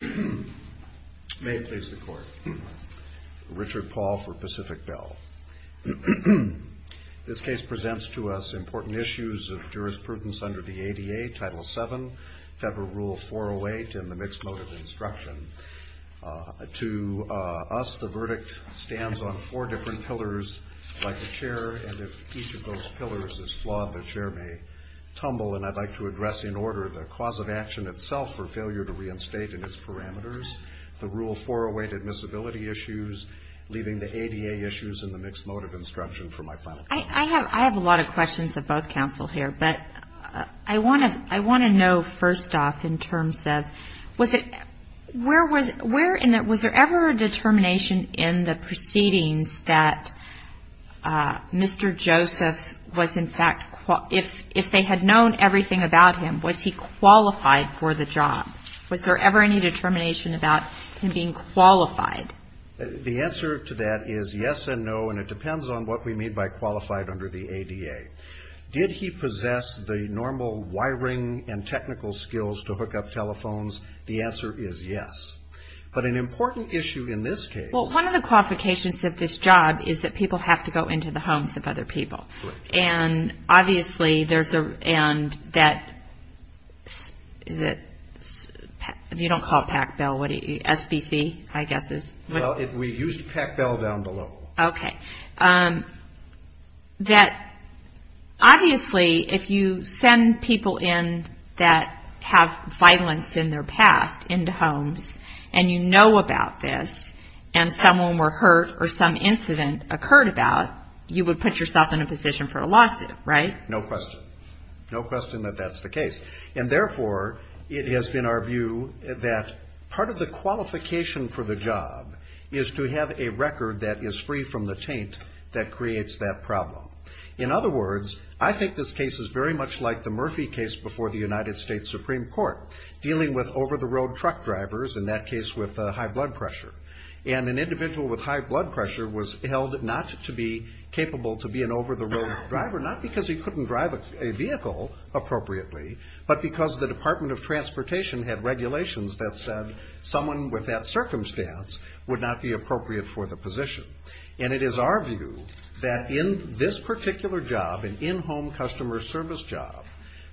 May it please the Court. Richard Paul for Pacific Bell. This case presents to us important issues of jurisprudence under the ADA, Title VII, Federal Rule 408, and the Mixed Motive Instruction. To us, the verdict stands on four different pillars, like the chair, and if each of those pillars is flawed, the chair may tumble. And I'd like to address in order the cause of action itself for failure to reinstate in its parameters, the Rule 408 admissibility issues, leaving the ADA issues and the Mixed Motive Instruction for my final comment. I have a lot of questions of both counsel here, but I want to know first off in terms of, was it, where was, was there ever a determination in the proceedings that Mr. Josephs was in fact, if they had known everything about him, was he qualified for the job? Was there ever any determination about him being qualified? The answer to that is yes and no, and it depends on what we mean by qualified under the ADA. Did he possess the normal wiring and technical skills to hook up telephones? The answer is yes. But an important issue in this case. Well, one of the qualifications of this job is that people have to go into the homes of other people. And obviously, there's a, and that, is it, you don't call it Pac Bell, what do you, SBC, I guess is. Well, we used Pac Bell down below. Okay. That obviously, if you send people in that have violence in their past into homes, and you know about this, and someone were hurt or some incident occurred about, you would put yourself in a position for a lawsuit, right? No question. No question that that's the case. And therefore, it has been our view that part of the qualification for the job is to have a record that is free from the taint that creates that problem. In other words, I think this case is very much like the Murphy case before the United in that case with high blood pressure. And an individual with high blood pressure was held not to be capable to be an over-the-road driver, not because he couldn't drive a vehicle appropriately, but because the Department of Transportation had regulations that said someone with that circumstance would not be appropriate for the position. And it is our view that in this particular job, an in-home customer service job,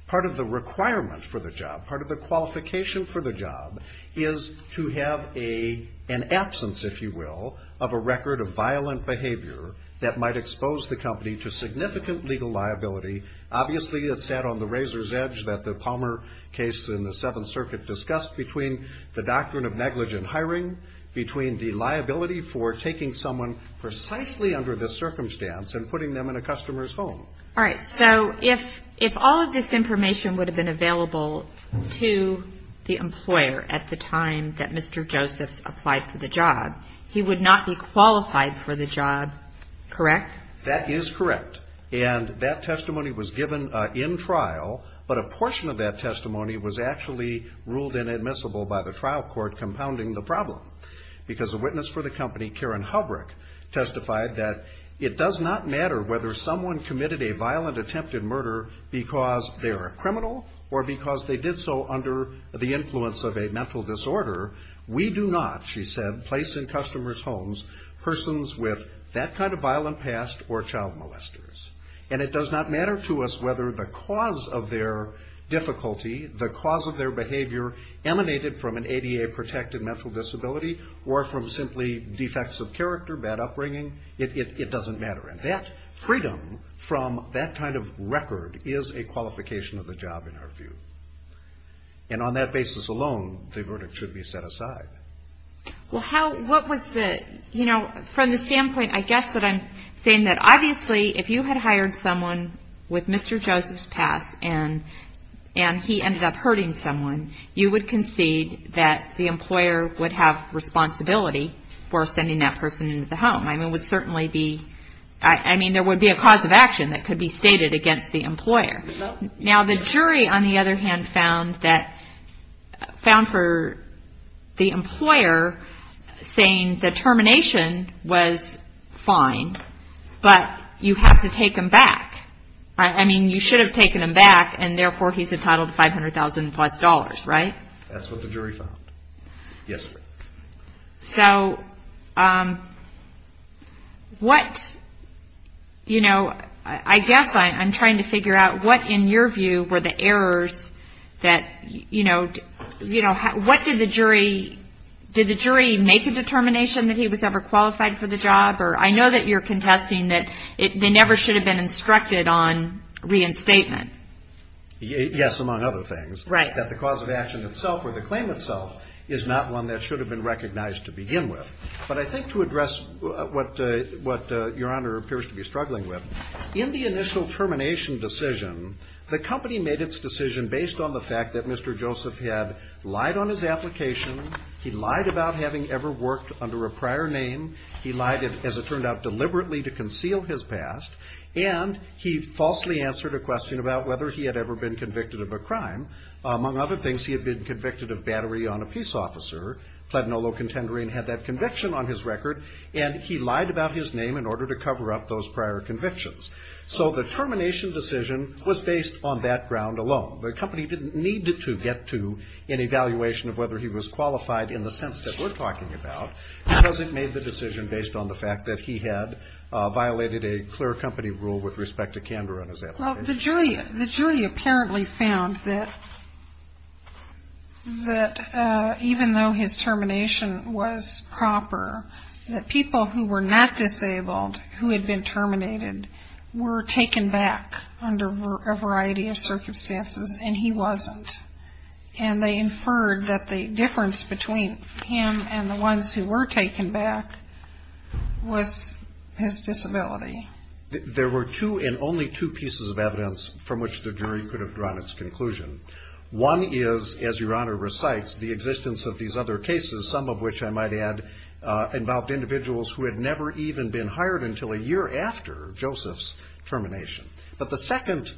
part of the requirement for the job, part of the qualification for the job is to have an absence, if you will, of a record of violent behavior that might expose the company to significant legal liability. Obviously, it sat on the razor's edge that the Palmer case in the Seventh Circuit discussed between the doctrine of negligent hiring, between the liability for taking someone precisely under this circumstance and putting them in a customer's home. All right. So if all of this information would have been available to the employer at the time that Mr. Josephs applied for the job, he would not be qualified for the job, correct? That is correct. And that testimony was given in trial, but a portion of that testimony was actually ruled inadmissible by the trial court compounding the problem, because a witness for the company, Karen Hubrick, testified that it does not matter whether someone committed a violent attempted murder because they are a criminal or because they did so under the influence of a mental disorder. We do not, she said, place in customers' homes persons with that kind of violent past or child molesters. And it does not matter to us whether the cause of their difficulty, the cause of their behavior emanated from an ADA-protected mental disability or from simply defects of character, bad upbringing. It doesn't matter. And that freedom from that kind of record is a qualification of the job, in our view. And on that basis alone, the verdict should be set aside. Well, how, what was the, you know, from the standpoint, I guess, that I'm saying that obviously if you had hired someone with Mr. Josephs' past and he ended up hurting someone, you would concede that the employer would have responsibility for sending that person into the home. I mean, it would certainly be, I mean, there would be a cause of action that could be stated against the employer. Now, the jury, on the other hand, found that, found for the employer saying that termination was fine, but you have to take him back. I mean, you should have taken him back, and therefore he's entitled to $500,000 plus, right? That's what the jury found. Yes, ma'am. So, what, you know, I guess I'm trying to figure out what, in your view, were the errors that, you know, what did the jury, did the jury make a determination that he was ever qualified for the job? I know that you're contesting that they never should have been instructed on reinstatement. Yes, among other things. Right. That the cause of action itself or the claim itself is not one that should have been recognized to begin with. But I think to address what Your Honor appears to be struggling with, in the initial termination decision, the company made its decision based on the fact that Mr. Joseph had lied on his application, he lied about having ever worked under a prior name, he lied, as it turned out, deliberately to conceal his past, and he falsely answered a question about whether he had ever been convicted of a crime. Among other things, he had been convicted of battery on a peace officer, and he lied about his name in order to cover up those prior convictions. So the termination decision was based on that ground alone. The company didn't need to get to an evaluation of whether he was qualified in the sense that we're talking about, because it made the decision based on the fact that he had violated a clear company rule with respect to candor on his application. Well, the jury apparently found that even though his termination was proper, that people who were not disabled, who had been terminated, were taken back under a variety of circumstances, and he wasn't. And they inferred that the difference between him and the ones who were taken back was his disability. There were two, and only two, pieces of evidence from which the jury could have drawn its conclusion. One is, as Your Honor recites, the existence of these other cases, some of which I might add involved individuals who had never even been hired until a year after Joseph's termination. But the second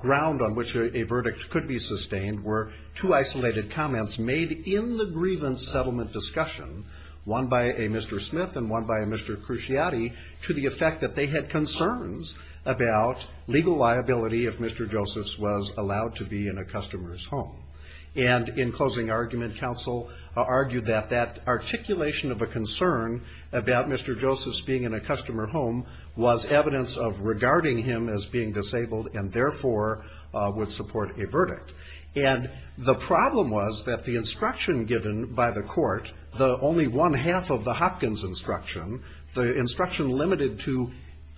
ground on which a verdict could be sustained were two isolated comments made in the grievance settlement discussion, one by a Mr. Smith and one by a Mr. Cruciati, to the effect that they had concerns about legal liability if Mr. Joseph's was allowed to be hired. And in closing argument, counsel argued that that articulation of a concern about Mr. Joseph's being in a customer home was evidence of regarding him as being disabled, and therefore would support a verdict. And the problem was that the instruction given by the court, the only one half of the Hopkins instruction, the instruction limited to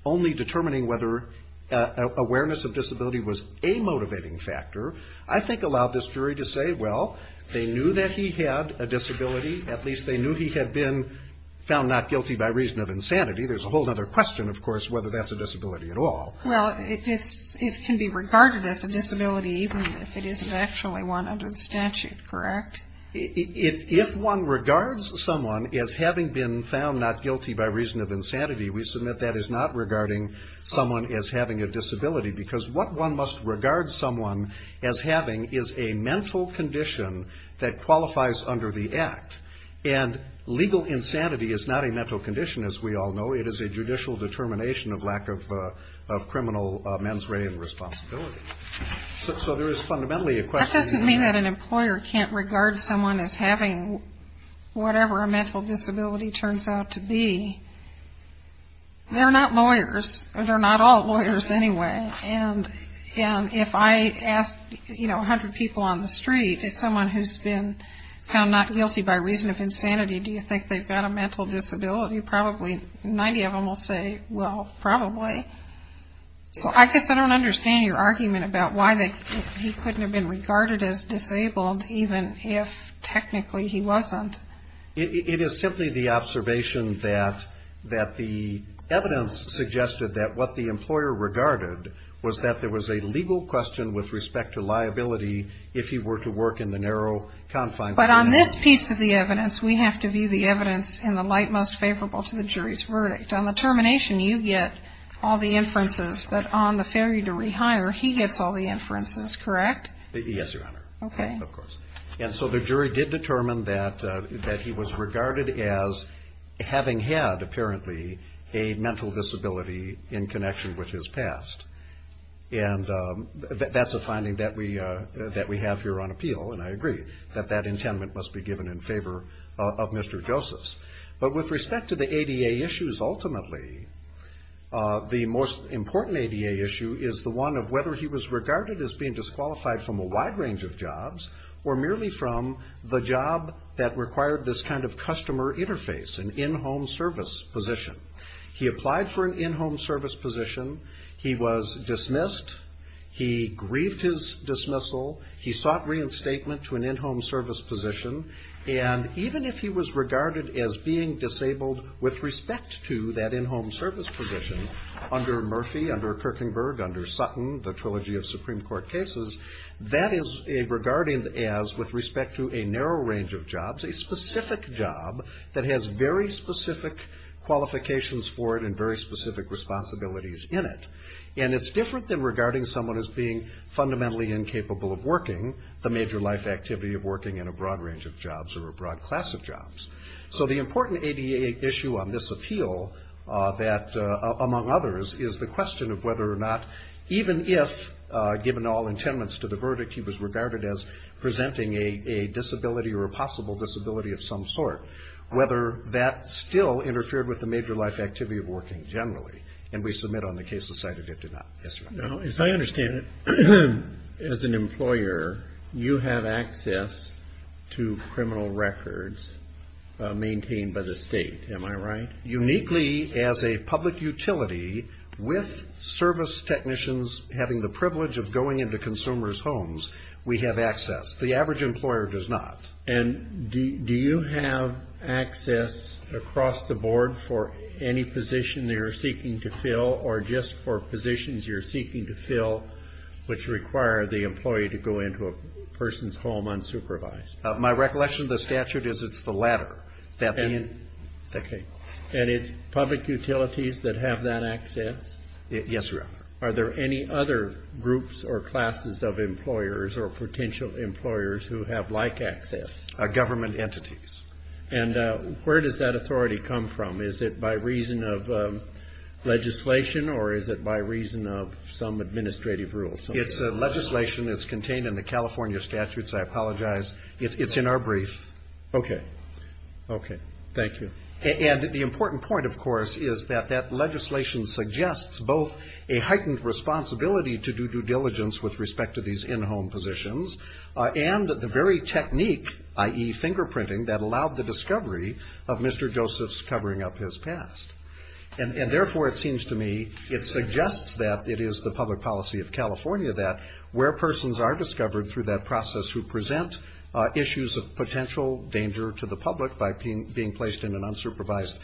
only determining whether awareness of disability was a motivating factor, I think allowed this jury to say, well, they knew that he had a disability. At least they knew he had been found not guilty by reason of insanity. There's a whole other question, of course, whether that's a disability at all. Well, it can be regarded as a disability even if it isn't actually one under the statute, correct? If one regards someone as having been found not guilty by reason of insanity, we submit that is not regarding someone as having a disability. Because what one must regard someone as having is a mental condition that qualifies under the act. And legal insanity is not a mental condition, as we all know. It is a judicial determination of lack of criminal mens rea and responsibility. So there is fundamentally a question. That doesn't mean that an employer can't regard someone as having whatever a mental disability turns out to be. They're not lawyers. They're not all lawyers anyway. And if I ask, you know, 100 people on the street, as someone who's been found not guilty by reason of insanity, do you think they've got a mental disability? Probably 90 of them will say, well, probably. So I guess I don't understand your argument about why he couldn't have been regarded as disabled even if technically he wasn't. It is simply the observation that the evidence suggested that what the employer regarded was that there was a legal question with respect to liability if he were to work in the narrow confines. But on this piece of the evidence, we have to view the evidence in the light most favorable to the jury's verdict. On the termination, you get all the inferences, but on the failure to rehire, he gets all the inferences, correct? Yes, Your Honor. Okay. Of course. And so the jury did determine that he was regarded as having had, apparently, a mental disability in connection with his past. And that's a finding that we have here on appeal, and I agree that that intent must be given in favor of Mr. Josephs. But with respect to the ADA issues, ultimately, the most important ADA issue is the one of whether he was regarded as being disqualified from a wide range of jobs or merely from the job that required this kind of customer interface, an in-home service position. He applied for an in-home service position. He was dismissed. He grieved his dismissal. He sought reinstatement to an in-home service position. And even if he was regarded as being disabled with respect to that in-home service position under Murphy, under Kirkenberg, under Sutton, the trilogy of Supreme Court cases, that is regarded as, with respect to a narrow range of jobs, a specific job that has very specific qualifications for it and very specific responsibilities in it. And it's different than regarding someone as being fundamentally incapable of working, the major life activity of working in a broad range of jobs or a broad class of jobs. So the important ADA issue on this appeal, among others, is the question of whether or not, even if, given all intendance to the verdict, he was regarded as presenting a disability or a possible disability of some sort, whether that still interfered with the major life activity of working generally. And we submit on the cases cited it did not. Yes, sir. Now, as I understand it, as an employer, you have access to criminal records maintained by the state. Am I right? Uniquely, as a public utility, with service technicians having the privilege of going into consumers' homes, we have access. The average employer does not. And do you have access across the board for any position you're seeking to fill or just for positions you're seeking to fill which require the employee to go into a person's home unsupervised? My recollection of the statute is it's the latter. And it's public utilities that have that access? Yes, Your Honor. Are there any other groups or classes of employers or potential employers who have like access? Government entities. And where does that authority come from? Is it by reason of legislation or is it by reason of some administrative rules? It's legislation. It's contained in the California statutes. I apologize. It's in our brief. Okay. Okay. Thank you. And the important point, of course, is that that legislation suggests both a heightened responsibility to do due diligence with respect to these in-home positions and the very technique, i.e. fingerprinting, that allowed the discovery of Mr. Joseph's covering up his past. And therefore, it seems to me it suggests that it is the public policy of California that where persons are discovered through that process who present issues of potential danger to the public by being placed in an unsupervised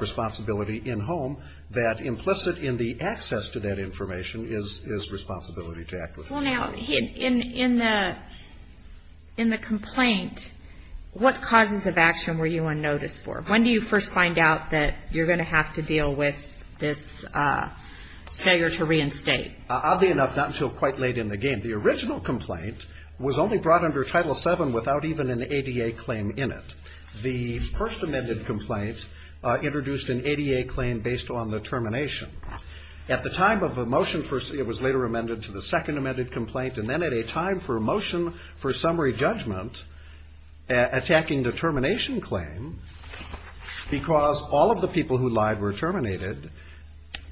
responsibility in-home, that implicit in the access to that information is responsibility to act with. Well, now, in the complaint, what causes of action were you on notice for? When do you first find out that you're going to have to deal with this failure to reinstate? Oddly enough, not until quite late in the game. The first amended complaint introduced an ADA claim based on the termination. At the time of the motion, it was later amended to the second amended complaint, and then at a time for motion for summary judgment, attacking the termination claim, because all of the people who lied were terminated,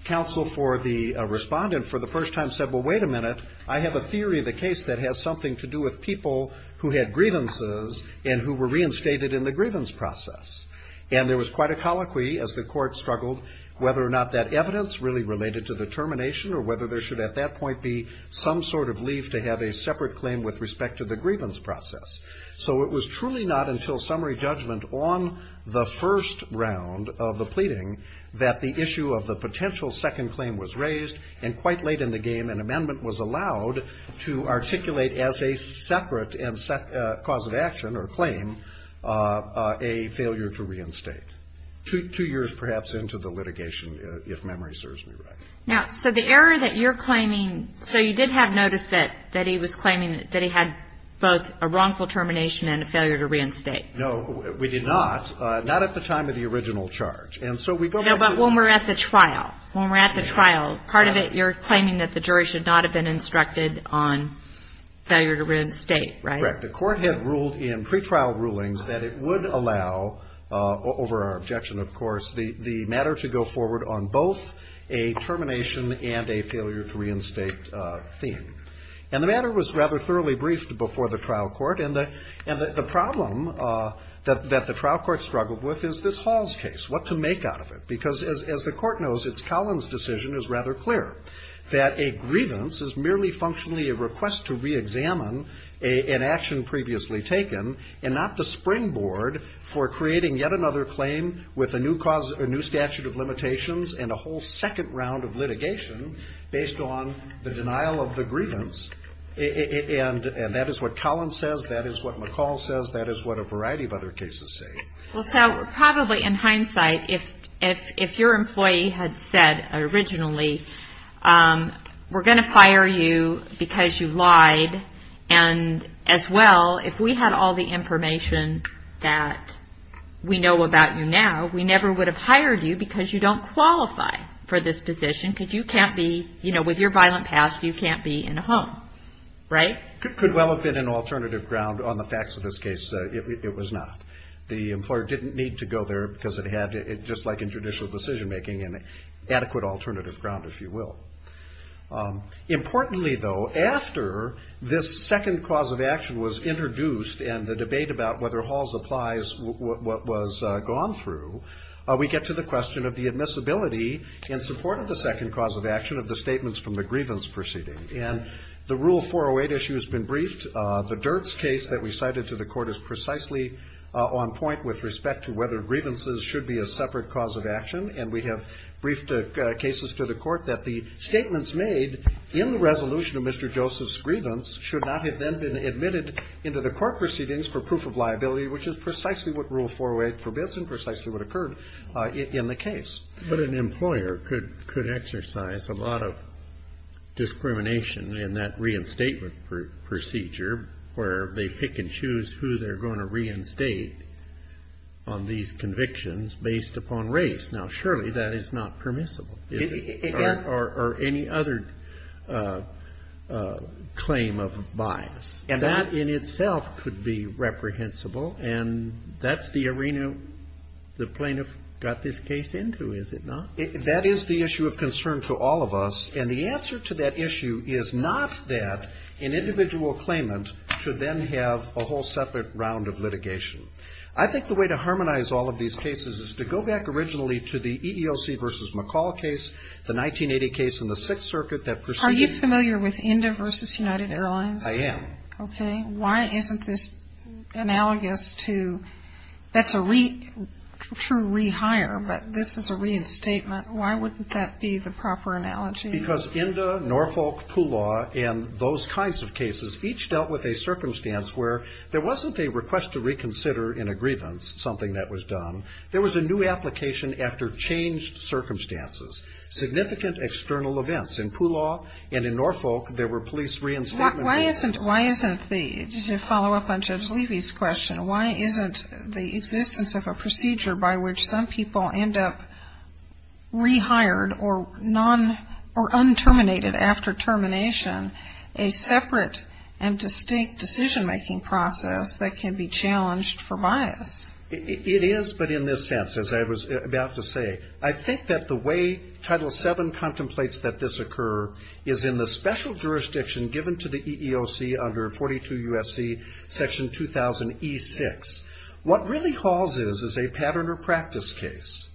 counsel for the respondent for the first time said, well, wait a minute. I have a theory of the case that has something to do with people who had grievances and who were reinstated. And there was quite a colloquy as the court struggled whether or not that evidence really related to the termination or whether there should at that point be some sort of leave to have a separate claim with respect to the grievance process. So it was truly not until summary judgment on the first round of the pleading that the issue of the potential second claim was raised. And quite late in the game, an amendment was allowed to articulate as a separate cause of action or claim. And that was a failure to reinstate. Two years, perhaps, into the litigation, if memory serves me right. Now, so the error that you're claiming, so you did have notice that he was claiming that he had both a wrongful termination and a failure to reinstate. No, we did not, not at the time of the original charge. No, but when we're at the trial, when we're at the trial, part of it, you're claiming that the jury should not have been instructed on failure to reinstate, right? The court had ruled in pretrial rulings that it would allow, over our objection, of course, the matter to go forward on both a termination and a failure to reinstate theme. And the matter was rather thoroughly briefed before the trial court. And the problem that the trial court struggled with is this Hall's case, what to make out of it. Because as the court knows, it's Collins' decision is rather clear, that a grievance is merely functionally a request to reexamine an action previously taken, and not the springboard for creating yet another claim with a new statute of limitations and a whole second round of litigation based on the denial of the grievance. And that is what Collins says, that is what McCall says, that is what a variety of other cases say. Well, Sal, probably in hindsight, if your employee had said originally, we're going to fire you because you lied, and as well, if we had all the information that we know about you now, we never would have hired you because you don't qualify for this position, because you can't be, you know, with your violent past, you can't be in a home, right? Could well have been an alternative ground on the facts of this case. It was not. The employer didn't need to go there because it had, just like in judicial decision making, an adequate alternative ground, if you will. Importantly, though, after this second cause of action was introduced and the debate about whether Hall's applies what was gone through, we get to the question of the admissibility in support of the second cause of action of the statements from the grievance proceeding. And the Rule 408 issue has been briefed. The Dirts case that we cited to the court is precisely on point with respect to whether grievances should be a separate cause of action, and we have briefed cases to the court that the statements made in the resolution of Mr. Joseph's grievance should not have then been admitted into the court for proof of liability, which is precisely what Rule 408 forbids and precisely what occurred in the case. But an employer could exercise a lot of discrimination in that reinstatement procedure, where they pick and choose who they're going to reinstate on these convictions based upon race. Now, surely that is not permissible. Or any other claim of bias. And that in itself could be reprehensible, and that's the arena the plaintiff got this case into, is it not? That is the issue of concern to all of us, and the answer to that issue is not that an individual claimant should then have a whole separate round of litigation. I think the way to harmonize all of these cases is to go back originally to the EEOC versus McCall case, the 1980 case and the Sixth Circuit that preceded it. Are you familiar with Indah versus United Airlines? I am. Okay. Why isn't this analogous to, that's a true rehire, but this is a reinstatement. Why wouldn't that be the proper analogy? Because Indah, Norfolk, Poolaw, and those kinds of cases each dealt with a circumstance where there wasn't a request to reconsider in a grievance, something that was done. There was a new application after changed circumstances, significant external events. In Poolaw and in Norfolk there were police reinstatement cases. Why isn't the, to follow up on Judge Levy's question, why isn't the existence of a procedure by which some people end up rehired or un-terminated after termination a separate and distinct decision-making process that can be challenged for bias? It is, but in this sense, as I was about to say, I think that the way Title VII contemplates that this occur is in the special jurisdiction given to the EEOC under 42 U.S.C. Section 2000E6. What really hauls is, is a pattern or practice case.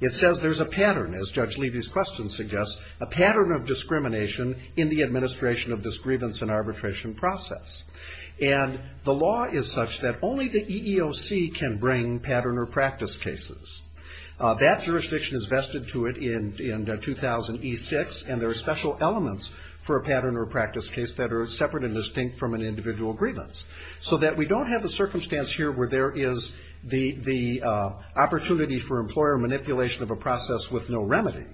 It says there's a pattern, as Judge Levy's question suggests, a pattern of discrimination in the administration of this grievance and arbitration process, and the law is such that only the EEOC can bring pattern or practice cases. That jurisdiction is vested to it in 2000E6, and there are special elements for a pattern or practice case that are separate and distinct from an individual grievance, so that we don't have the circumstance here where there is the opportunity for employer manipulation of a process with no remedy.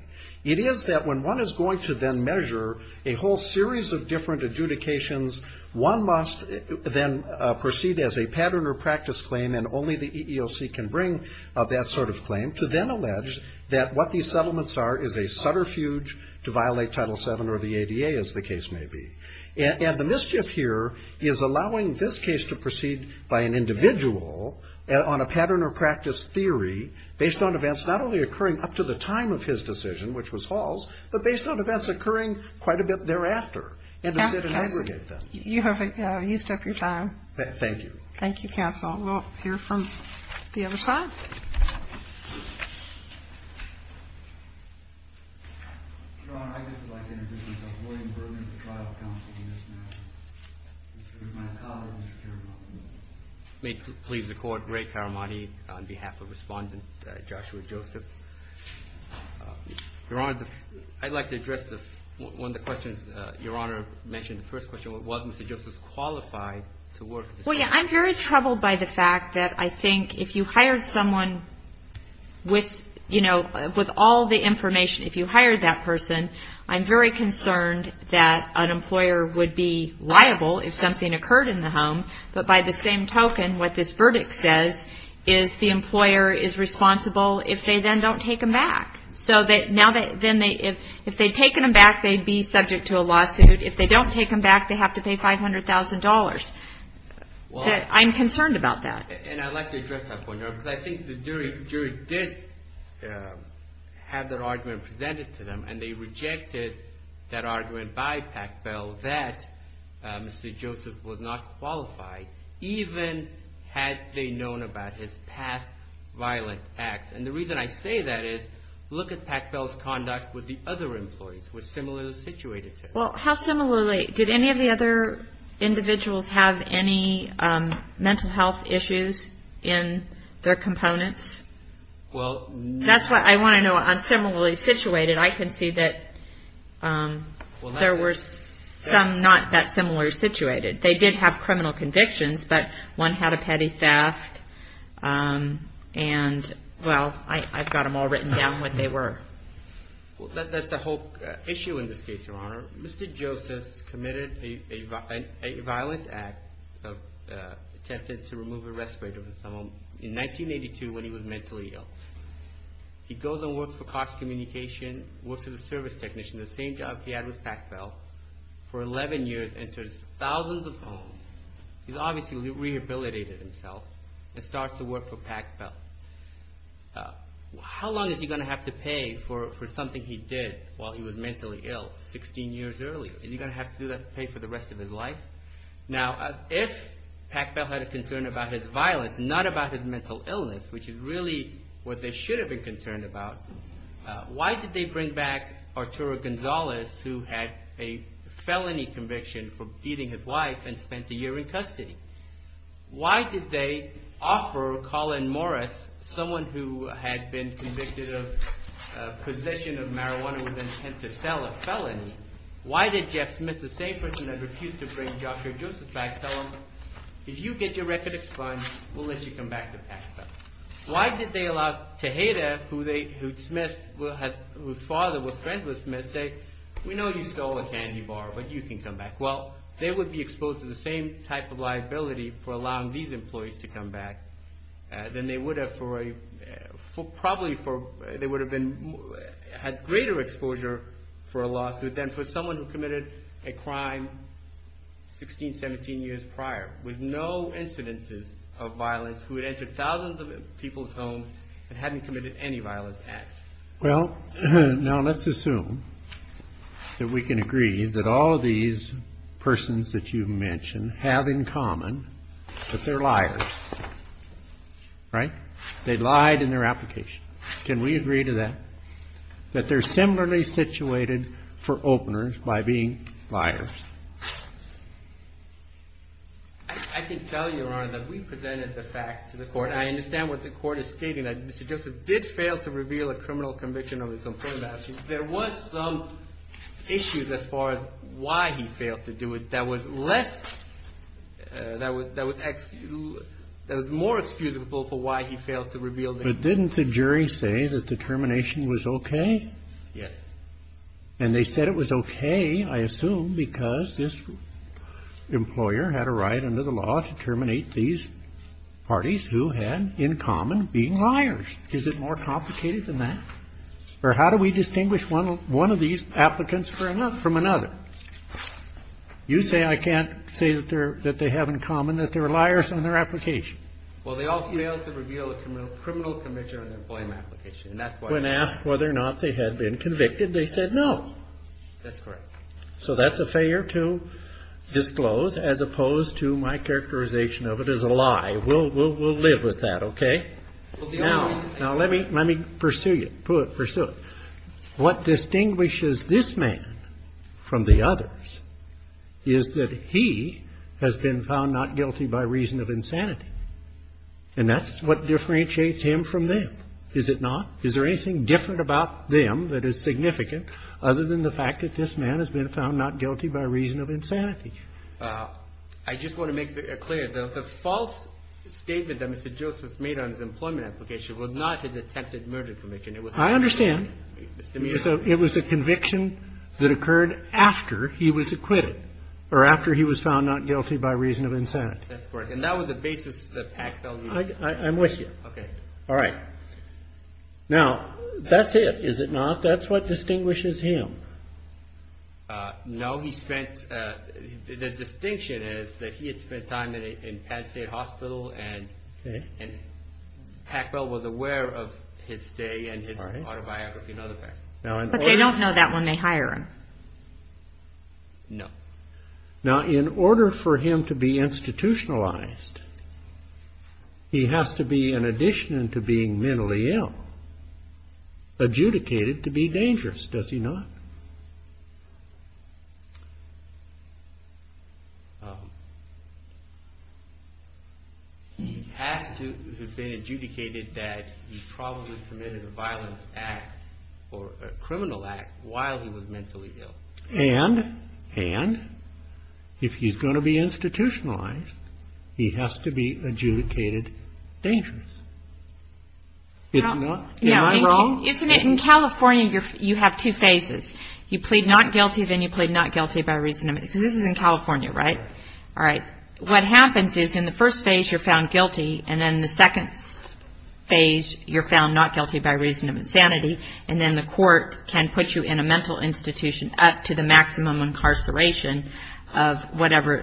It is that when one is going to then measure a whole series of different adjudications, one must then proceed as a pattern or practice claim, and only the EEOC can bring that sort of claim, to then allege that what these settlements are is a subterfuge to violate Title VII or the ADA, as the case may be. And the mischief here is allowing this case to proceed by an individual on a pattern or practice theory based on events not only occurring up to the time of his decision, which was Hall's, but based on events occurring quite a bit thereafter, and to segregate them. Thank you. Thank you, counsel. We'll hear from the other side. Your Honor, I'd just like to introduce myself. William Berman, the trial counsel in this matter. Mr. Germano. May it please the Court. Ray Caramani on behalf of Respondent Joshua Joseph. Your Honor, I'd like to address one of the questions Your Honor mentioned, the first question. I'm very troubled by the fact that I think if you hired someone with all the information, if you hired that person, I'm very concerned that an employer would be liable if something occurred in the home, but by the same token, what this verdict says is the employer is responsible if they then don't take them back. So if they'd taken them back, they'd be subject to a lawsuit. If they don't take them back, they have to pay $500,000. I'm concerned about that. And I'd like to address that point, Your Honor, because I think the jury did have that argument presented to them, and they rejected that argument by Packbell that Mr. Joseph was not qualified, even had they known about his past violent acts. And the reason I say that is, look at Packbell's conduct with the other employees who were similarly situated to him. Well, how similarly? Did any of the other individuals have any mental health issues in their components? That's what I want to know. On similarly situated, I can see that there were some not that similarly situated. They did have criminal convictions, but one had a petty theft, and, well, I don't know. I've got them all written down what they were. Well, that's the whole issue in this case, Your Honor. Mr. Joseph committed a violent act of attempted to remove a respirator from someone in 1982 when he was mentally ill. He goes and works for Cox Communication, works as a service technician. The same job he had with Packbell. For 11 years, enters thousands of homes. He's obviously rehabilitated himself and starts to work for Packbell. How long is he going to have to pay for something he did while he was mentally ill 16 years earlier? Is he going to have to pay for the rest of his life? Now, if Packbell had a concern about his violence, not about his mental illness, which is really what they should have been concerned about, why did they bring back Arturo Gonzalez, who had a felony conviction for beating his wife and spent a year in custody? Why did they offer Colin Morris, someone who had been convicted of possession of marijuana with an intent to sell a felony? Why did Jeff Smith, the same person that refused to bring Joshua Joseph back, tell him, if you get your record explained, we'll let you come back to Packbell? Why did they allow Tejeda, whose father was friends with Smith, say, we know you stole a candy bar, but you can come back? Well, they would be exposed to the same type of liability for allowing these employees to come back. They would have had greater exposure for a lawsuit than for someone who committed a crime 16, 17 years prior, with no incidences of violence, who had entered thousands of people's homes and hadn't committed any violent acts. Well, now let's assume that we can agree that all of these persons that you've mentioned have in common that they're liars, right? They lied in their application. Can we agree to that, that they're similarly situated for openers by being liars? I can tell you, Your Honor, that we presented the facts to the court. But I understand what the court is stating, that Mr. Joseph did fail to reveal a criminal conviction of his employee's actions. There was some issues as far as why he failed to do it that was less, that was more excusable for why he failed to reveal the issue. But didn't the jury say that the termination was okay? Yes. And they said it was okay, I assume, because this employer had a right under the law to terminate these parties who had in common being liars. Is it more complicated than that? Or how do we distinguish one of these applicants from another? You say I can't say that they have in common that they're liars in their application. Well, they all failed to reveal a criminal conviction on their employment application, and that's why. When asked whether or not they had been convicted, they said no. That's correct. So that's a failure to disclose, as opposed to my characterization of it as a lie. We'll live with that, okay? Now, let me pursue you. What distinguishes this man from the others is that he has been found not guilty by reason of insanity. And that's what differentiates him from them, is it not? Is there anything different about them that is significant other than the fact that this man has been found not guilty by reason of insanity? I just want to make it clear. The false statement that Mr. Joseph made on his employment application was not his attempted murder conviction. I understand. It was a conviction that occurred after he was acquitted, or after he was found not guilty by reason of insanity. That's correct. And that was the basis of the Pact values. I'm with you. Now, that's it, is it not? That's what distinguishes him. No, the distinction is that he had spent time in Penn State Hospital, and Pacwell was aware of his stay and his autobiography. But they don't know that when they hire him. No. Now, in order for him to be institutionalized, he has to be, in addition to being mentally ill, adjudicated to be dangerous, does he not? He has to have been adjudicated that he probably committed a violent act, or a criminal act, while he was mentally ill. And if he's going to be institutionalized, he has to be adjudicated dangerous. Am I wrong? No. In California, you have two phases. You plead not guilty, then you plead not guilty by reason of insanity, because this is in California, right? All right. What happens is, in the first phase, you're found guilty, and then in the second phase, you're found not guilty by reason of insanity, and then the court can put you in a mental institution up to the maximum incarceration of whatever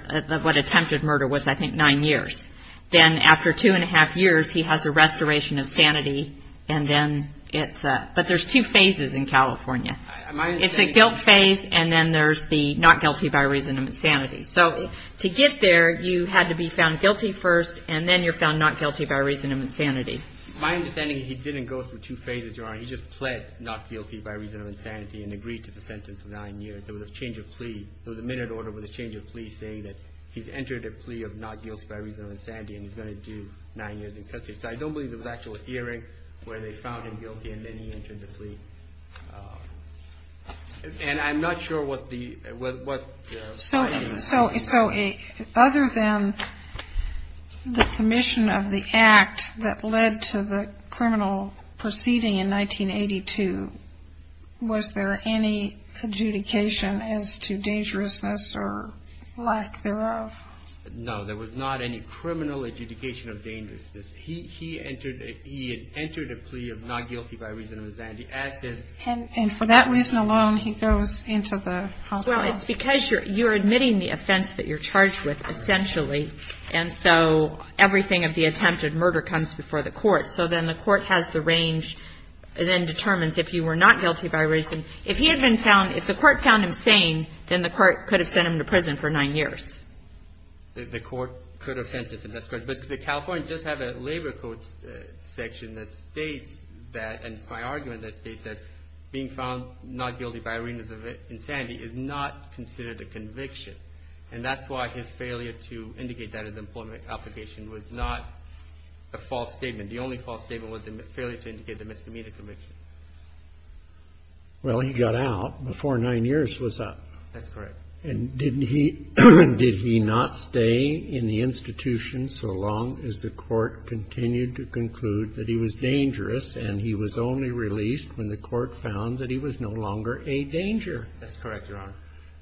attempted murder was, I think, nine years. Then after two and a half years, he has a restoration of sanity, and then it's up. But there's two phases in California. It's a guilt phase, and then there's the not guilty by reason of insanity. So to get there, you had to be found guilty first, and then you're found not guilty by reason of insanity. My understanding is he didn't go through two phases, Your Honor. He just pled not guilty by reason of insanity and agreed to the sentence of nine years. There was a change of plea. There was a minute order with a change of plea saying that he's entered a plea of not guilty by reason of insanity, and he's going to do nine years in custody. So I don't believe there was an actual hearing where they found him guilty, and then he entered the plea. And I'm not sure what the... So other than the commission of the act that led to the criminal proceeding in 1982, was there any adjudication as to dangerousness or lack thereof? No, there was not any criminal adjudication of dangerousness. He entered a plea of not guilty by reason of insanity. And for that reason alone, he goes into the hospital? Well, it's because you're admitting the offense that you're charged with, essentially, and so everything of the attempted murder comes before the court. So then the court has the range, then determines if you were not guilty by reason. If he had been found, if the court found him sane, then the court could have sent him to prison for nine years. The court could have sent him to prison. But the California does have a labor court section that states that, and it's my argument, that states that being found not guilty by reason of insanity is not considered a conviction. And that's why his failure to indicate that as an employment application was not a false statement. The only false statement was the failure to indicate the misdemeanor conviction. Well, he got out before nine years was up. That's correct. And didn't he – did he not stay in the institution so long as the court continued to conclude that he was dangerous and he was only released when the court found that he was no longer a danger? That's correct, Your Honor.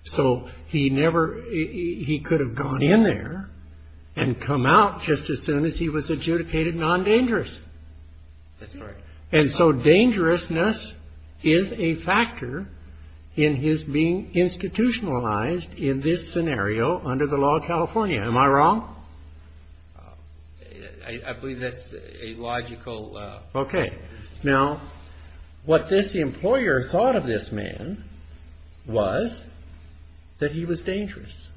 So he never – he could have gone in there and come out just as soon as he was adjudicated non-dangerous. That's correct. And so dangerousness is a factor in his being institutionalized in this scenario under the law of California. Am I wrong? I believe that's a logical – Okay. Now, what this employer thought of this man was that he was dangerous.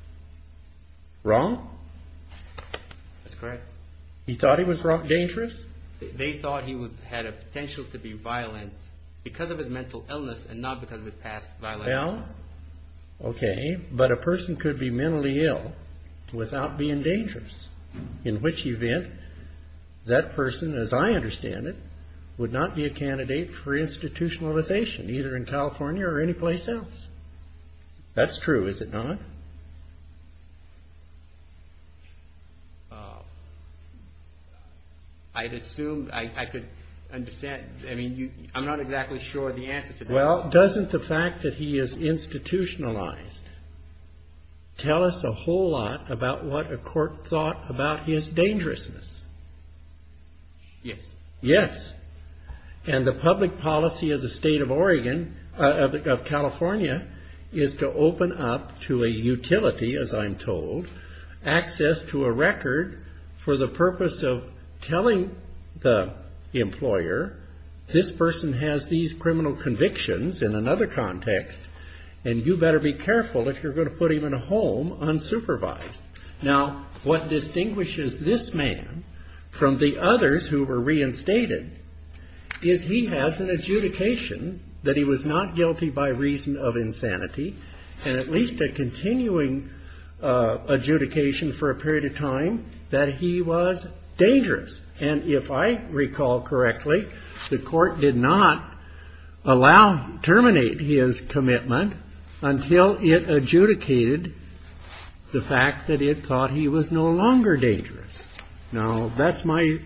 Wrong? That's correct. He thought he was dangerous? They thought he had a potential to be violent because of his mental illness and not because of his past violence. Well, okay. But a person could be mentally ill without being dangerous in which event that person, as I understand it, would not be a candidate for institutionalization either in California or anyplace else. That's true, is it not? I'd assume – I could understand – I mean, I'm not exactly sure the answer to that. Well, doesn't the fact that he is institutionalized tell us a whole lot about what a court thought about his dangerousness? Yes. Yes. And the public policy of the state of Oregon – of California is to open up to a utility, as I'm told, access to a record for the purpose of telling the employer, this person has these criminal convictions in another context, and you better be careful if you're going to put him in a home unsupervised. Now, what distinguishes this man from the others who were reinstated is he has an adjudication that he was not guilty by reason of insanity and at least a continuing adjudication for a period of time that he was dangerous. And if I recall correctly, the Court did not allow – terminate his commitment until it adjudicated the fact that it thought he was no longer dangerous. Now, that's my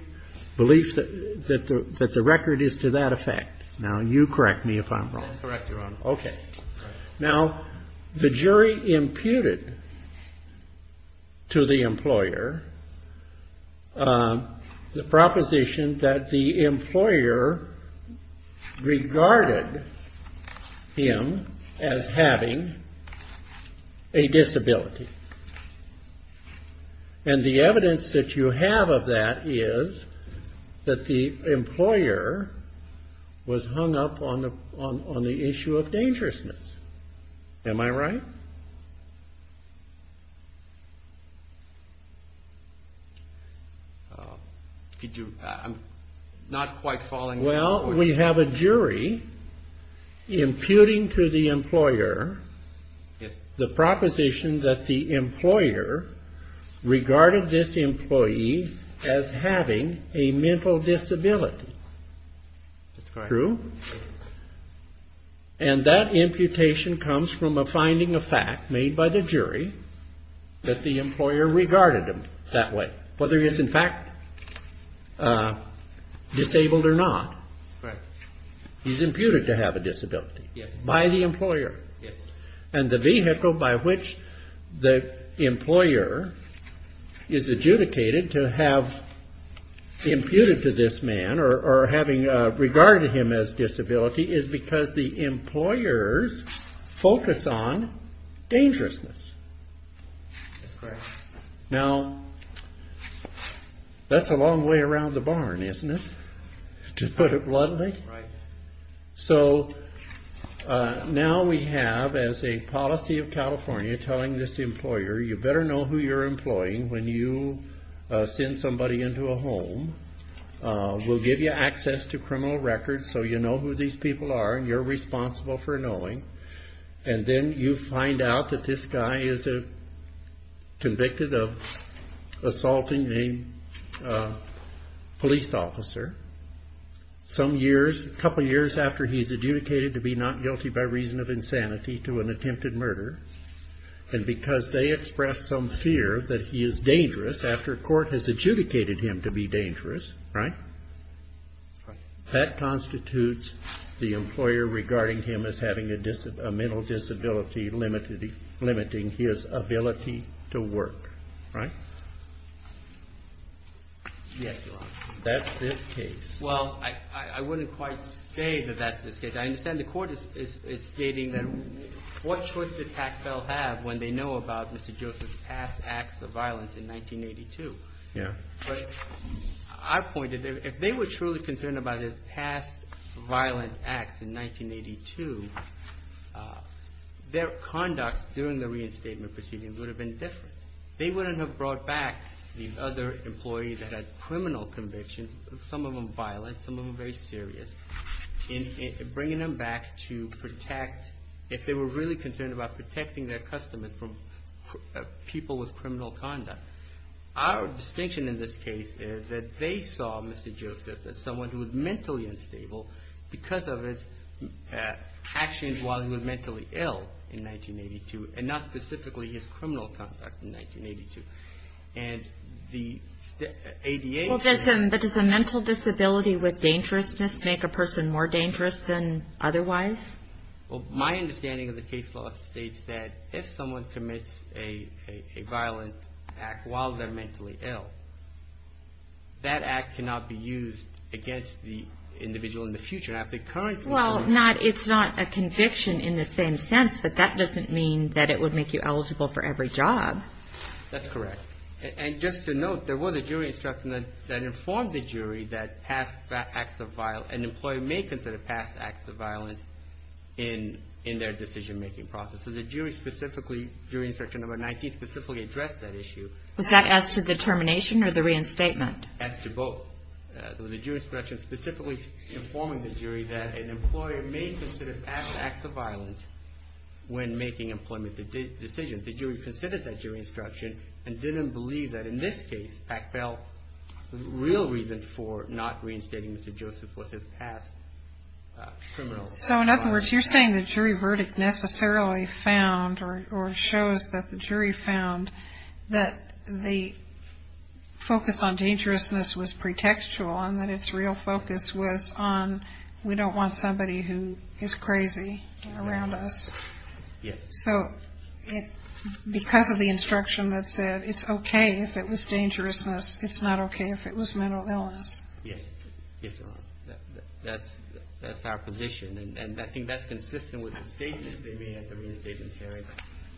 belief that the record is to that effect. Now, you correct me if I'm wrong. I'll correct you, Your Honor. Okay. Now, the jury imputed to the employer the proposition that the employer regarded him as having a disability. And the evidence that you have of that is that the employer was hung up on the issue of dangerousness. Am I right? Could you – I'm not quite following what you're saying. Well, we have a jury imputing to the employer the proposition that the employer regarded this employee as having a mental disability. That's correct. True? And that imputation comes from a finding of fact made by the jury that the employer regarded him that way, whether he is in fact disabled or not. Right. He's imputed to have a disability by the employer. Yes. And the vehicle by which the employer is adjudicated to have imputed to this man or having regarded him as disability is because the employers focus on dangerousness. That's correct. Now, that's a long way around the barn, isn't it, to put it bluntly? Right. So, now we have, as a policy of California, telling this employer, you better know who you're employing when you send somebody into a home. We'll give you access to criminal records so you know who these people are and you're responsible for knowing. And then you find out that this guy is convicted of assaulting a police officer. Some years, a couple years after he's adjudicated to be not guilty by reason of insanity to an attempted murder. And because they expressed some fear that he is dangerous after court has adjudicated him to be dangerous. Right. That constitutes the employer regarding him as having a mental disability limiting his ability to work. Right. Yes, Your Honor. That's this case. Well, I wouldn't quite say that that's this case. I understand the Court is stating that what choice did Packville have when they know about Mr. Joseph's past acts of violence in 1982? Yeah. But I pointed there, if they were truly concerned about his past violent acts in 1982, their conduct during the reinstatement proceedings would have been different. They wouldn't have brought back the other employees that had criminal convictions, some of them violent, some of them very serious, and bringing them back to protect, if they were really concerned about protecting their customers from people with criminal conduct. Our distinction in this case is that they saw Mr. Joseph as someone who was mentally unstable because of his actions while he was mentally ill in 1982, and not specifically his criminal conduct in 1982. And the ADHC... Well, does a mental disability with dangerousness make a person more dangerous than otherwise? Well, my understanding of the case law states that if someone commits a violent act while they're mentally ill, that act cannot be used against the individual in the future. Well, it's not a conviction in the same sense, but that doesn't mean that it would make you eligible for every job. That's correct. And just to note, there was a jury instruction that informed the jury that an employee may consider past acts of violence in their decision-making process. So the jury instruction number 19 specifically addressed that issue. Was that as to the termination or the reinstatement? As to both. Well, there was a jury instruction specifically informing the jury that an employer may consider past acts of violence when making employment decisions. The jury considered that jury instruction and didn't believe that in this case, Pack Bell, the real reason for not reinstating Mr. Joseph was his past criminal conduct. So in other words, you're saying the jury verdict necessarily found or shows that the jury found that the focus on dangerousness was pretextual and that its real focus was on we don't want somebody who is crazy around us. So because of the instruction that said it's OK if it was dangerousness, it's not OK if it was mental illness. Yes. Yes, Your Honor. That's our position. And I think that's consistent with the statements they made at the reinstatement hearing.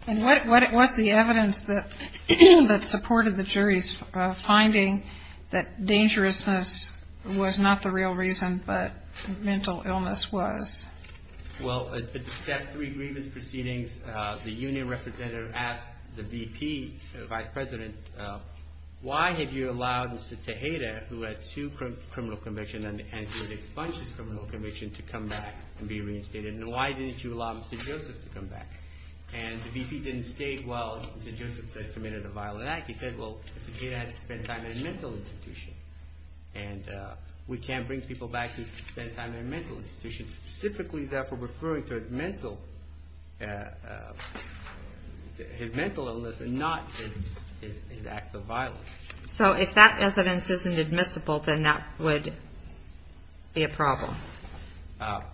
And what was the evidence that supported the jury's finding that dangerousness was not the real reason but mental illness was? Well, at the Step 3 grievance proceedings, the union representative asked the VP, the vice president, why have you allowed Mr. Tejeda, who had two criminal convictions and he had expunged his criminal conviction, to come back and be reinstated? And why didn't you allow Mr. Joseph to come back? And the VP didn't state, well, Mr. Joseph committed a violent act. He said, well, Mr. Tejeda had to spend time in a mental institution. And we can't bring people back who spend time in a mental institution. Specifically, therefore, referring to his mental illness and not his acts of violence. So if that evidence isn't admissible, then that would be a problem?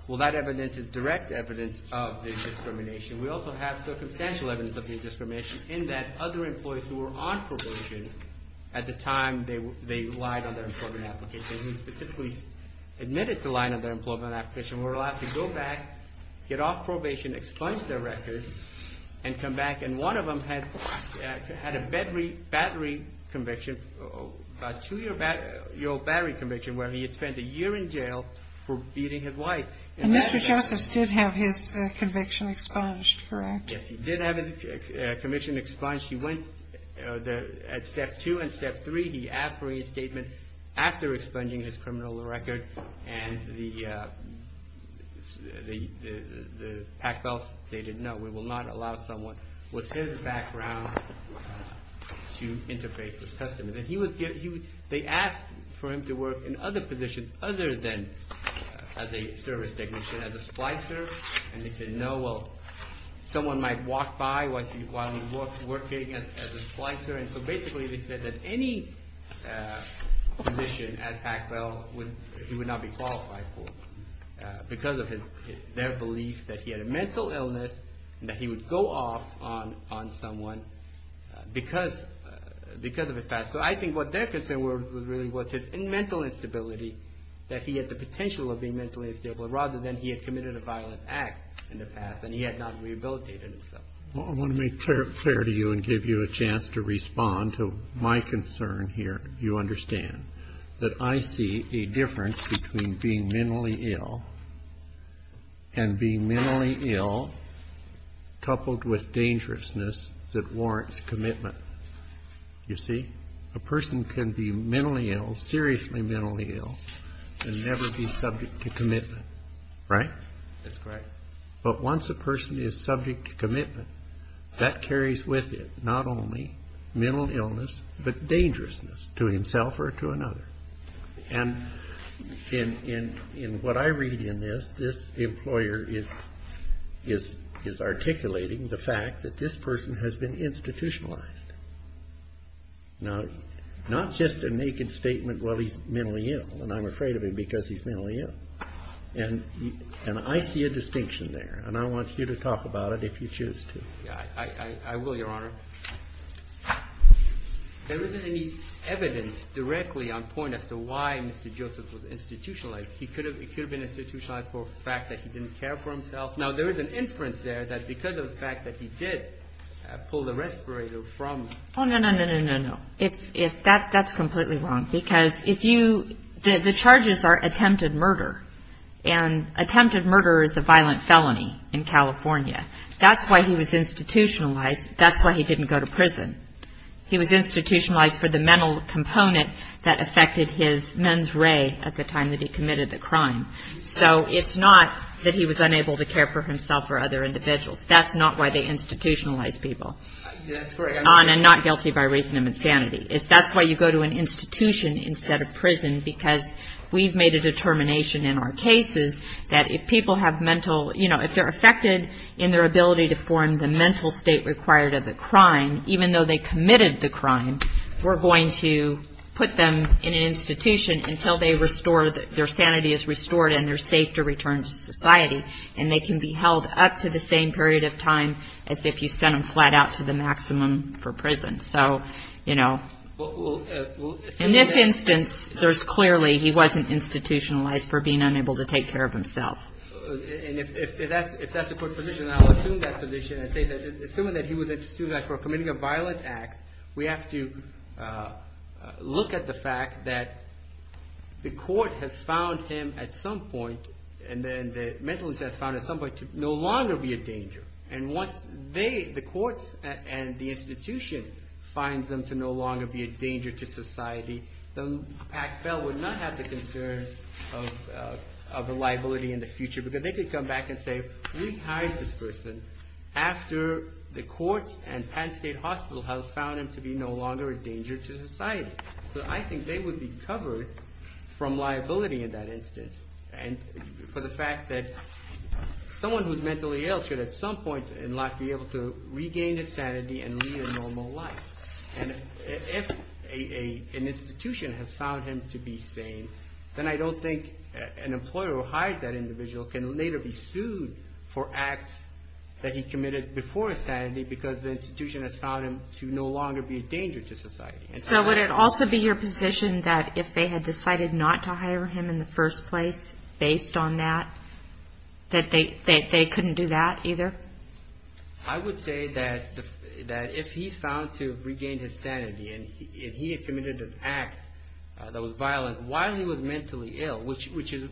Well, that evidence is direct evidence of the discrimination. We also have circumstantial evidence of the discrimination in that other employees who were on probation at the time they relied on their employment application and specifically admitted to the line of their employment application were allowed to go back, get off probation, expunge their records, and come back. And one of them had a battery conviction, a two-year-old battery conviction, where he had spent a year in jail for beating his wife. And Mr. Joseph did have his conviction expunged, correct? Yes, he did have his conviction expunged. At step two and step three, he asked for a reinstatement after expunging his criminal record. And the pack belt stated, no, we will not allow someone with his background to interface with customers. They asked for him to work in other positions other than as a service technician, as a supply service. And they said, no, well, someone might walk by while he's working as a supply service. So basically they said that any position at pack belt he would not be qualified for because of their belief that he had a mental illness and that he would go off on someone because of his past. So I think what their concern was really was his mental instability, that he had the potential of being mentally unstable, rather than he had committed a violent act in the past and he had not rehabilitated himself. I want to make clear to you and give you a chance to respond to my concern here. You understand that I see a difference between being mentally ill and being mentally ill coupled with dangerousness that warrants commitment. You see, a person can be mentally ill, seriously mentally ill, and never be subject to commitment, right? That's correct. But once a person is subject to commitment, that carries with it not only mental illness, but dangerousness to himself or to another. And in what I read in this, this employer is articulating the fact that this person has been institutionalized. Now, not just a naked statement, well, he's mentally ill, and I'm afraid of him because he's mentally ill. And I see a distinction there, and I want you to talk about it if you choose to. I will, Your Honor. There isn't any evidence directly on point as to why Mr. Joseph was institutionalized. He could have been institutionalized for the fact that he didn't care for himself. Now, there is an inference there that because of the fact that he did pull the respirator from him. Oh, no, no, no, no, no, no. That's completely wrong because if you – the charges are attempted murder, and attempted murder is a violent felony in California. That's why he was institutionalized. That's why he didn't go to prison. He was institutionalized for the mental component that affected his men's ray at the time that he committed the crime. So it's not that he was unable to care for himself or other individuals. That's not why they institutionalize people. I'm not guilty by reason of insanity. That's why you go to an institution instead of prison because we've made a determination in our cases that if people have mental – in their ability to form the mental state required of a crime, even though they committed the crime, we're going to put them in an institution until they restore – their sanity is restored and they're safe to return to society. And they can be held up to the same period of time as if you sent them flat out to the maximum for prison. So, you know, in this instance, there's clearly he wasn't institutionalized for being unable to take care of himself. And if that's the court's position, I'll assume that position and say that – assuming that he was institutionalized for committing a violent act, we have to look at the fact that the court has found him at some point and then the mental institute has found him at some point to no longer be a danger. And once they – the courts and the institution finds them to no longer be a danger to society, the PACFEL would not have the concern of a liability in the future because they could come back and say, we've hired this person after the courts and Penn State Hospital have found him to be no longer a danger to society. So I think they would be covered from liability in that instance. And for the fact that someone who's mentally ill should at some point in life be able to regain his sanity and lead a normal life. And if an institution has found him to be sane, then I don't think an employer who hired that individual can later be sued for acts that he committed before his sanity because the institution has found him to no longer be a danger to society. So would it also be your position that if they had decided not to hire him in the first place based on that, that they couldn't do that either? I would say that if he's found to have regained his sanity and he had committed an act that was violent while he was mentally ill, which is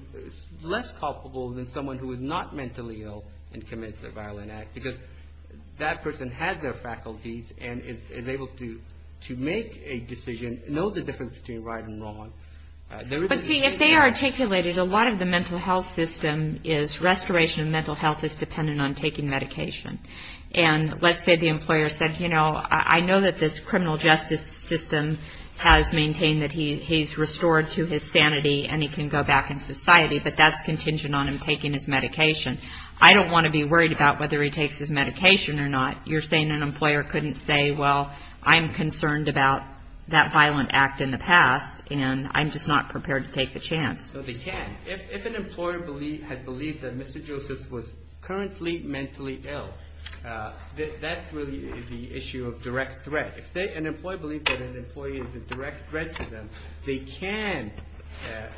less culpable than someone who is not mentally ill and commits a violent act because that person has their faculties and is able to make a decision, knows the difference between right and wrong. But seeing if they articulated a lot of the mental health system is restoration of mental health is dependent on taking medication. And let's say the employer said, you know, I know that this criminal justice system has maintained that he's restored to his sanity and he can go back in society, but that's contingent on him taking his medication. I don't want to be worried about whether he takes his medication or not. You're saying an employer couldn't say, well, I'm concerned about that violent act in the past, and I'm just not prepared to take the chance. No, they can. If an employer had believed that Mr. Joseph was currently mentally ill, that's really the issue of direct threat. If an employer believed that an employee is a direct threat to them, they can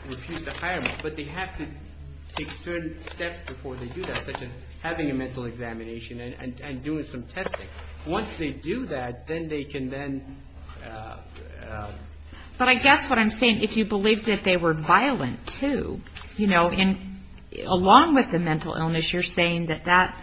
refuse to hire them, but they have to take certain steps before they do that, such as having a mental examination and doing some testing. Once they do that, then they can then. But I guess what I'm saying, if you believed that they were violent, too, you know, and along with the mental illness, you're saying that that.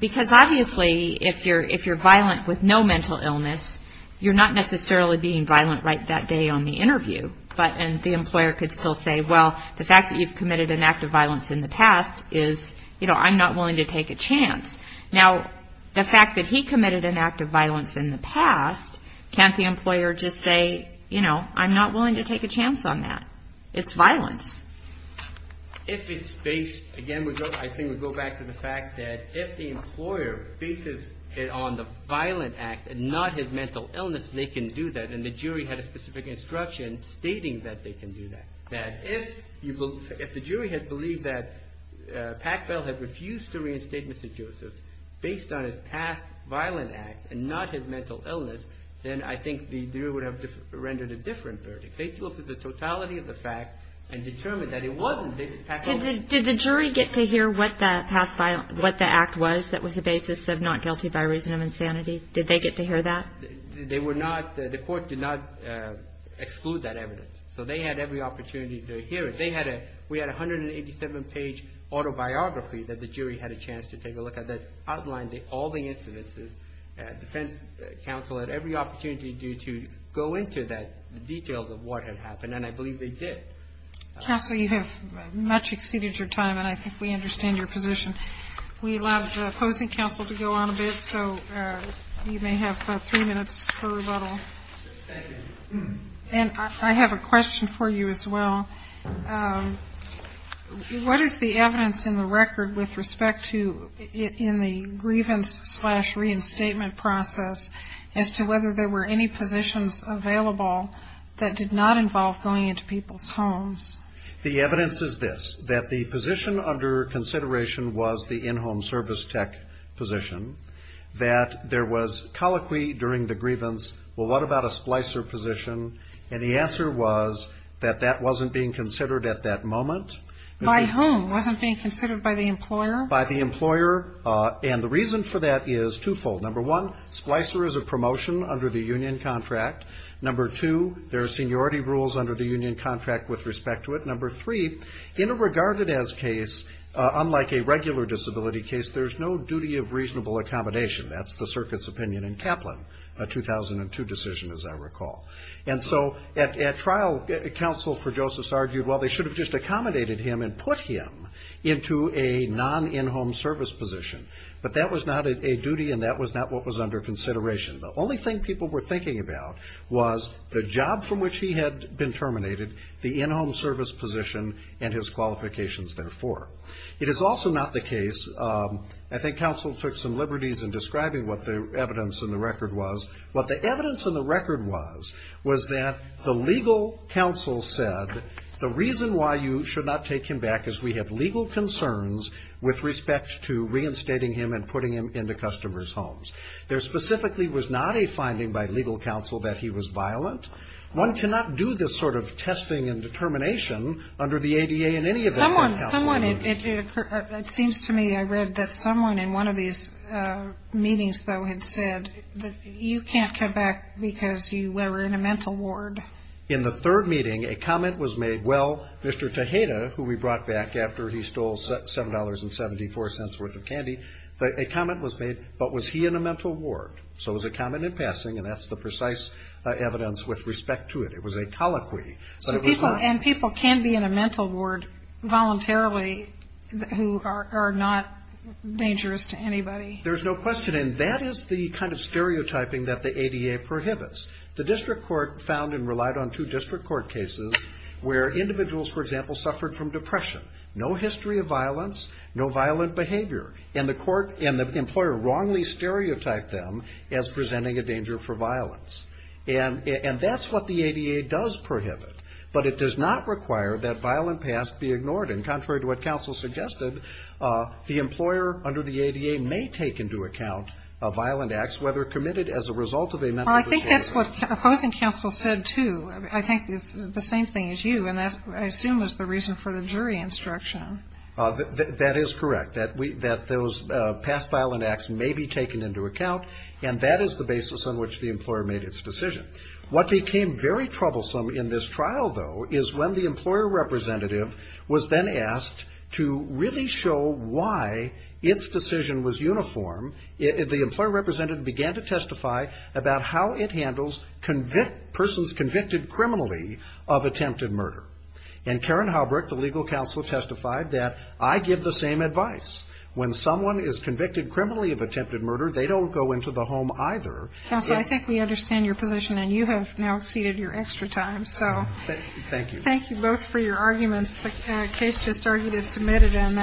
Because obviously, if you're if you're violent with no mental illness, you're not necessarily being violent right that day on the interview. But and the employer could still say, well, the fact that you've committed an act of violence in the past is, you know, I'm not willing to take a chance. Now, the fact that he committed an act of violence in the past, can't the employer just say, you know, I'm not willing to take a chance on that. It's violence. If it's based again, I think we go back to the fact that if the employer bases it on the violent act and not his mental illness, they can do that. And the jury had a specific instruction stating that they can do that. If the jury had believed that Packbell had refused to reinstate Mr. Joseph based on his past violent acts and not his mental illness, then I think the jury would have rendered a different verdict. They took the totality of the fact and determined that it wasn't. Did the jury get to hear what the past, what the act was that was the basis of not guilty by reason of insanity? Did they get to hear that? They were not. The court did not exclude that evidence. So they had every opportunity to hear it. We had a 187-page autobiography that the jury had a chance to take a look at that outlined all the incidences. Defense counsel had every opportunity to go into the details of what had happened, and I believe they did. Counsel, you have much exceeded your time, and I think we understand your position. We allow the opposing counsel to go on a bit, so you may have three minutes for rebuttal. And I have a question for you as well. What is the evidence in the record with respect to in the grievance-slash-reinstatement process as to whether there were any positions available that did not involve going into people's homes? The evidence is this, that the position under consideration was the in-home service tech position, that there was colloquy during the grievance, well, what about a splicer position? And the answer was that that wasn't being considered at that moment. By whom? It wasn't being considered by the employer? By the employer, and the reason for that is twofold. Number one, splicer is a promotion under the union contract. Number two, there are seniority rules under the union contract with respect to it. And number three, in a regarded-as case, unlike a regular disability case, there's no duty of reasonable accommodation. That's the circuit's opinion in Kaplan, a 2002 decision, as I recall. And so at trial, counsel for Josephs argued, well, they should have just accommodated him and put him into a non-in-home service position. But that was not a duty, and that was not what was under consideration. The only thing people were thinking about was the job from which he had been terminated, the in-home service position, and his qualifications therefore. It is also not the case, I think counsel took some liberties in describing what the evidence in the record was. What the evidence in the record was was that the legal counsel said, the reason why you should not take him back is we have legal concerns with respect to reinstating him and putting him into customers' homes. There specifically was not a finding by legal counsel that he was violent. One cannot do this sort of testing and determination under the ADA in any of the court counseling. It seems to me I read that someone in one of these meetings, though, had said that you can't come back because you were in a mental ward. In the third meeting, a comment was made, well, Mr. Tejeda, who we brought back after he stole $7.74 worth of candy, a comment was made, but was he in a mental ward? So it was a comment in passing, and that's the precise evidence with respect to it. It was a colloquy. But it was not. And people can be in a mental ward voluntarily who are not dangerous to anybody. There's no question. And that is the kind of stereotyping that the ADA prohibits. The district court found and relied on two district court cases where individuals, for example, suffered from depression. No history of violence, no violent behavior. And the court and the employer wrongly stereotyped them as presenting a danger for violence. And that's what the ADA does prohibit. But it does not require that violent past be ignored. And contrary to what counsel suggested, the employer under the ADA may take into account violent acts, whether committed as a result of a mental disorder. Well, I think that's what opposing counsel said, too. I think it's the same thing as you, and that, I assume, is the reason for the jury instruction. That is correct. That those past violent acts may be taken into account. And that is the basis on which the employer made its decision. What became very troublesome in this trial, though, is when the employer representative was then asked to really show why its decision was uniform. The employer representative began to testify about how it handles persons convicted criminally of attempted murder. And Karen Howbrook, the legal counsel, testified that, I give the same advice. When someone is convicted criminally of attempted murder, they don't go into the home either. Counsel, I think we understand your position, and you have now exceeded your extra time. Thank you. Thank you both for your arguments. The case just argued is submitted.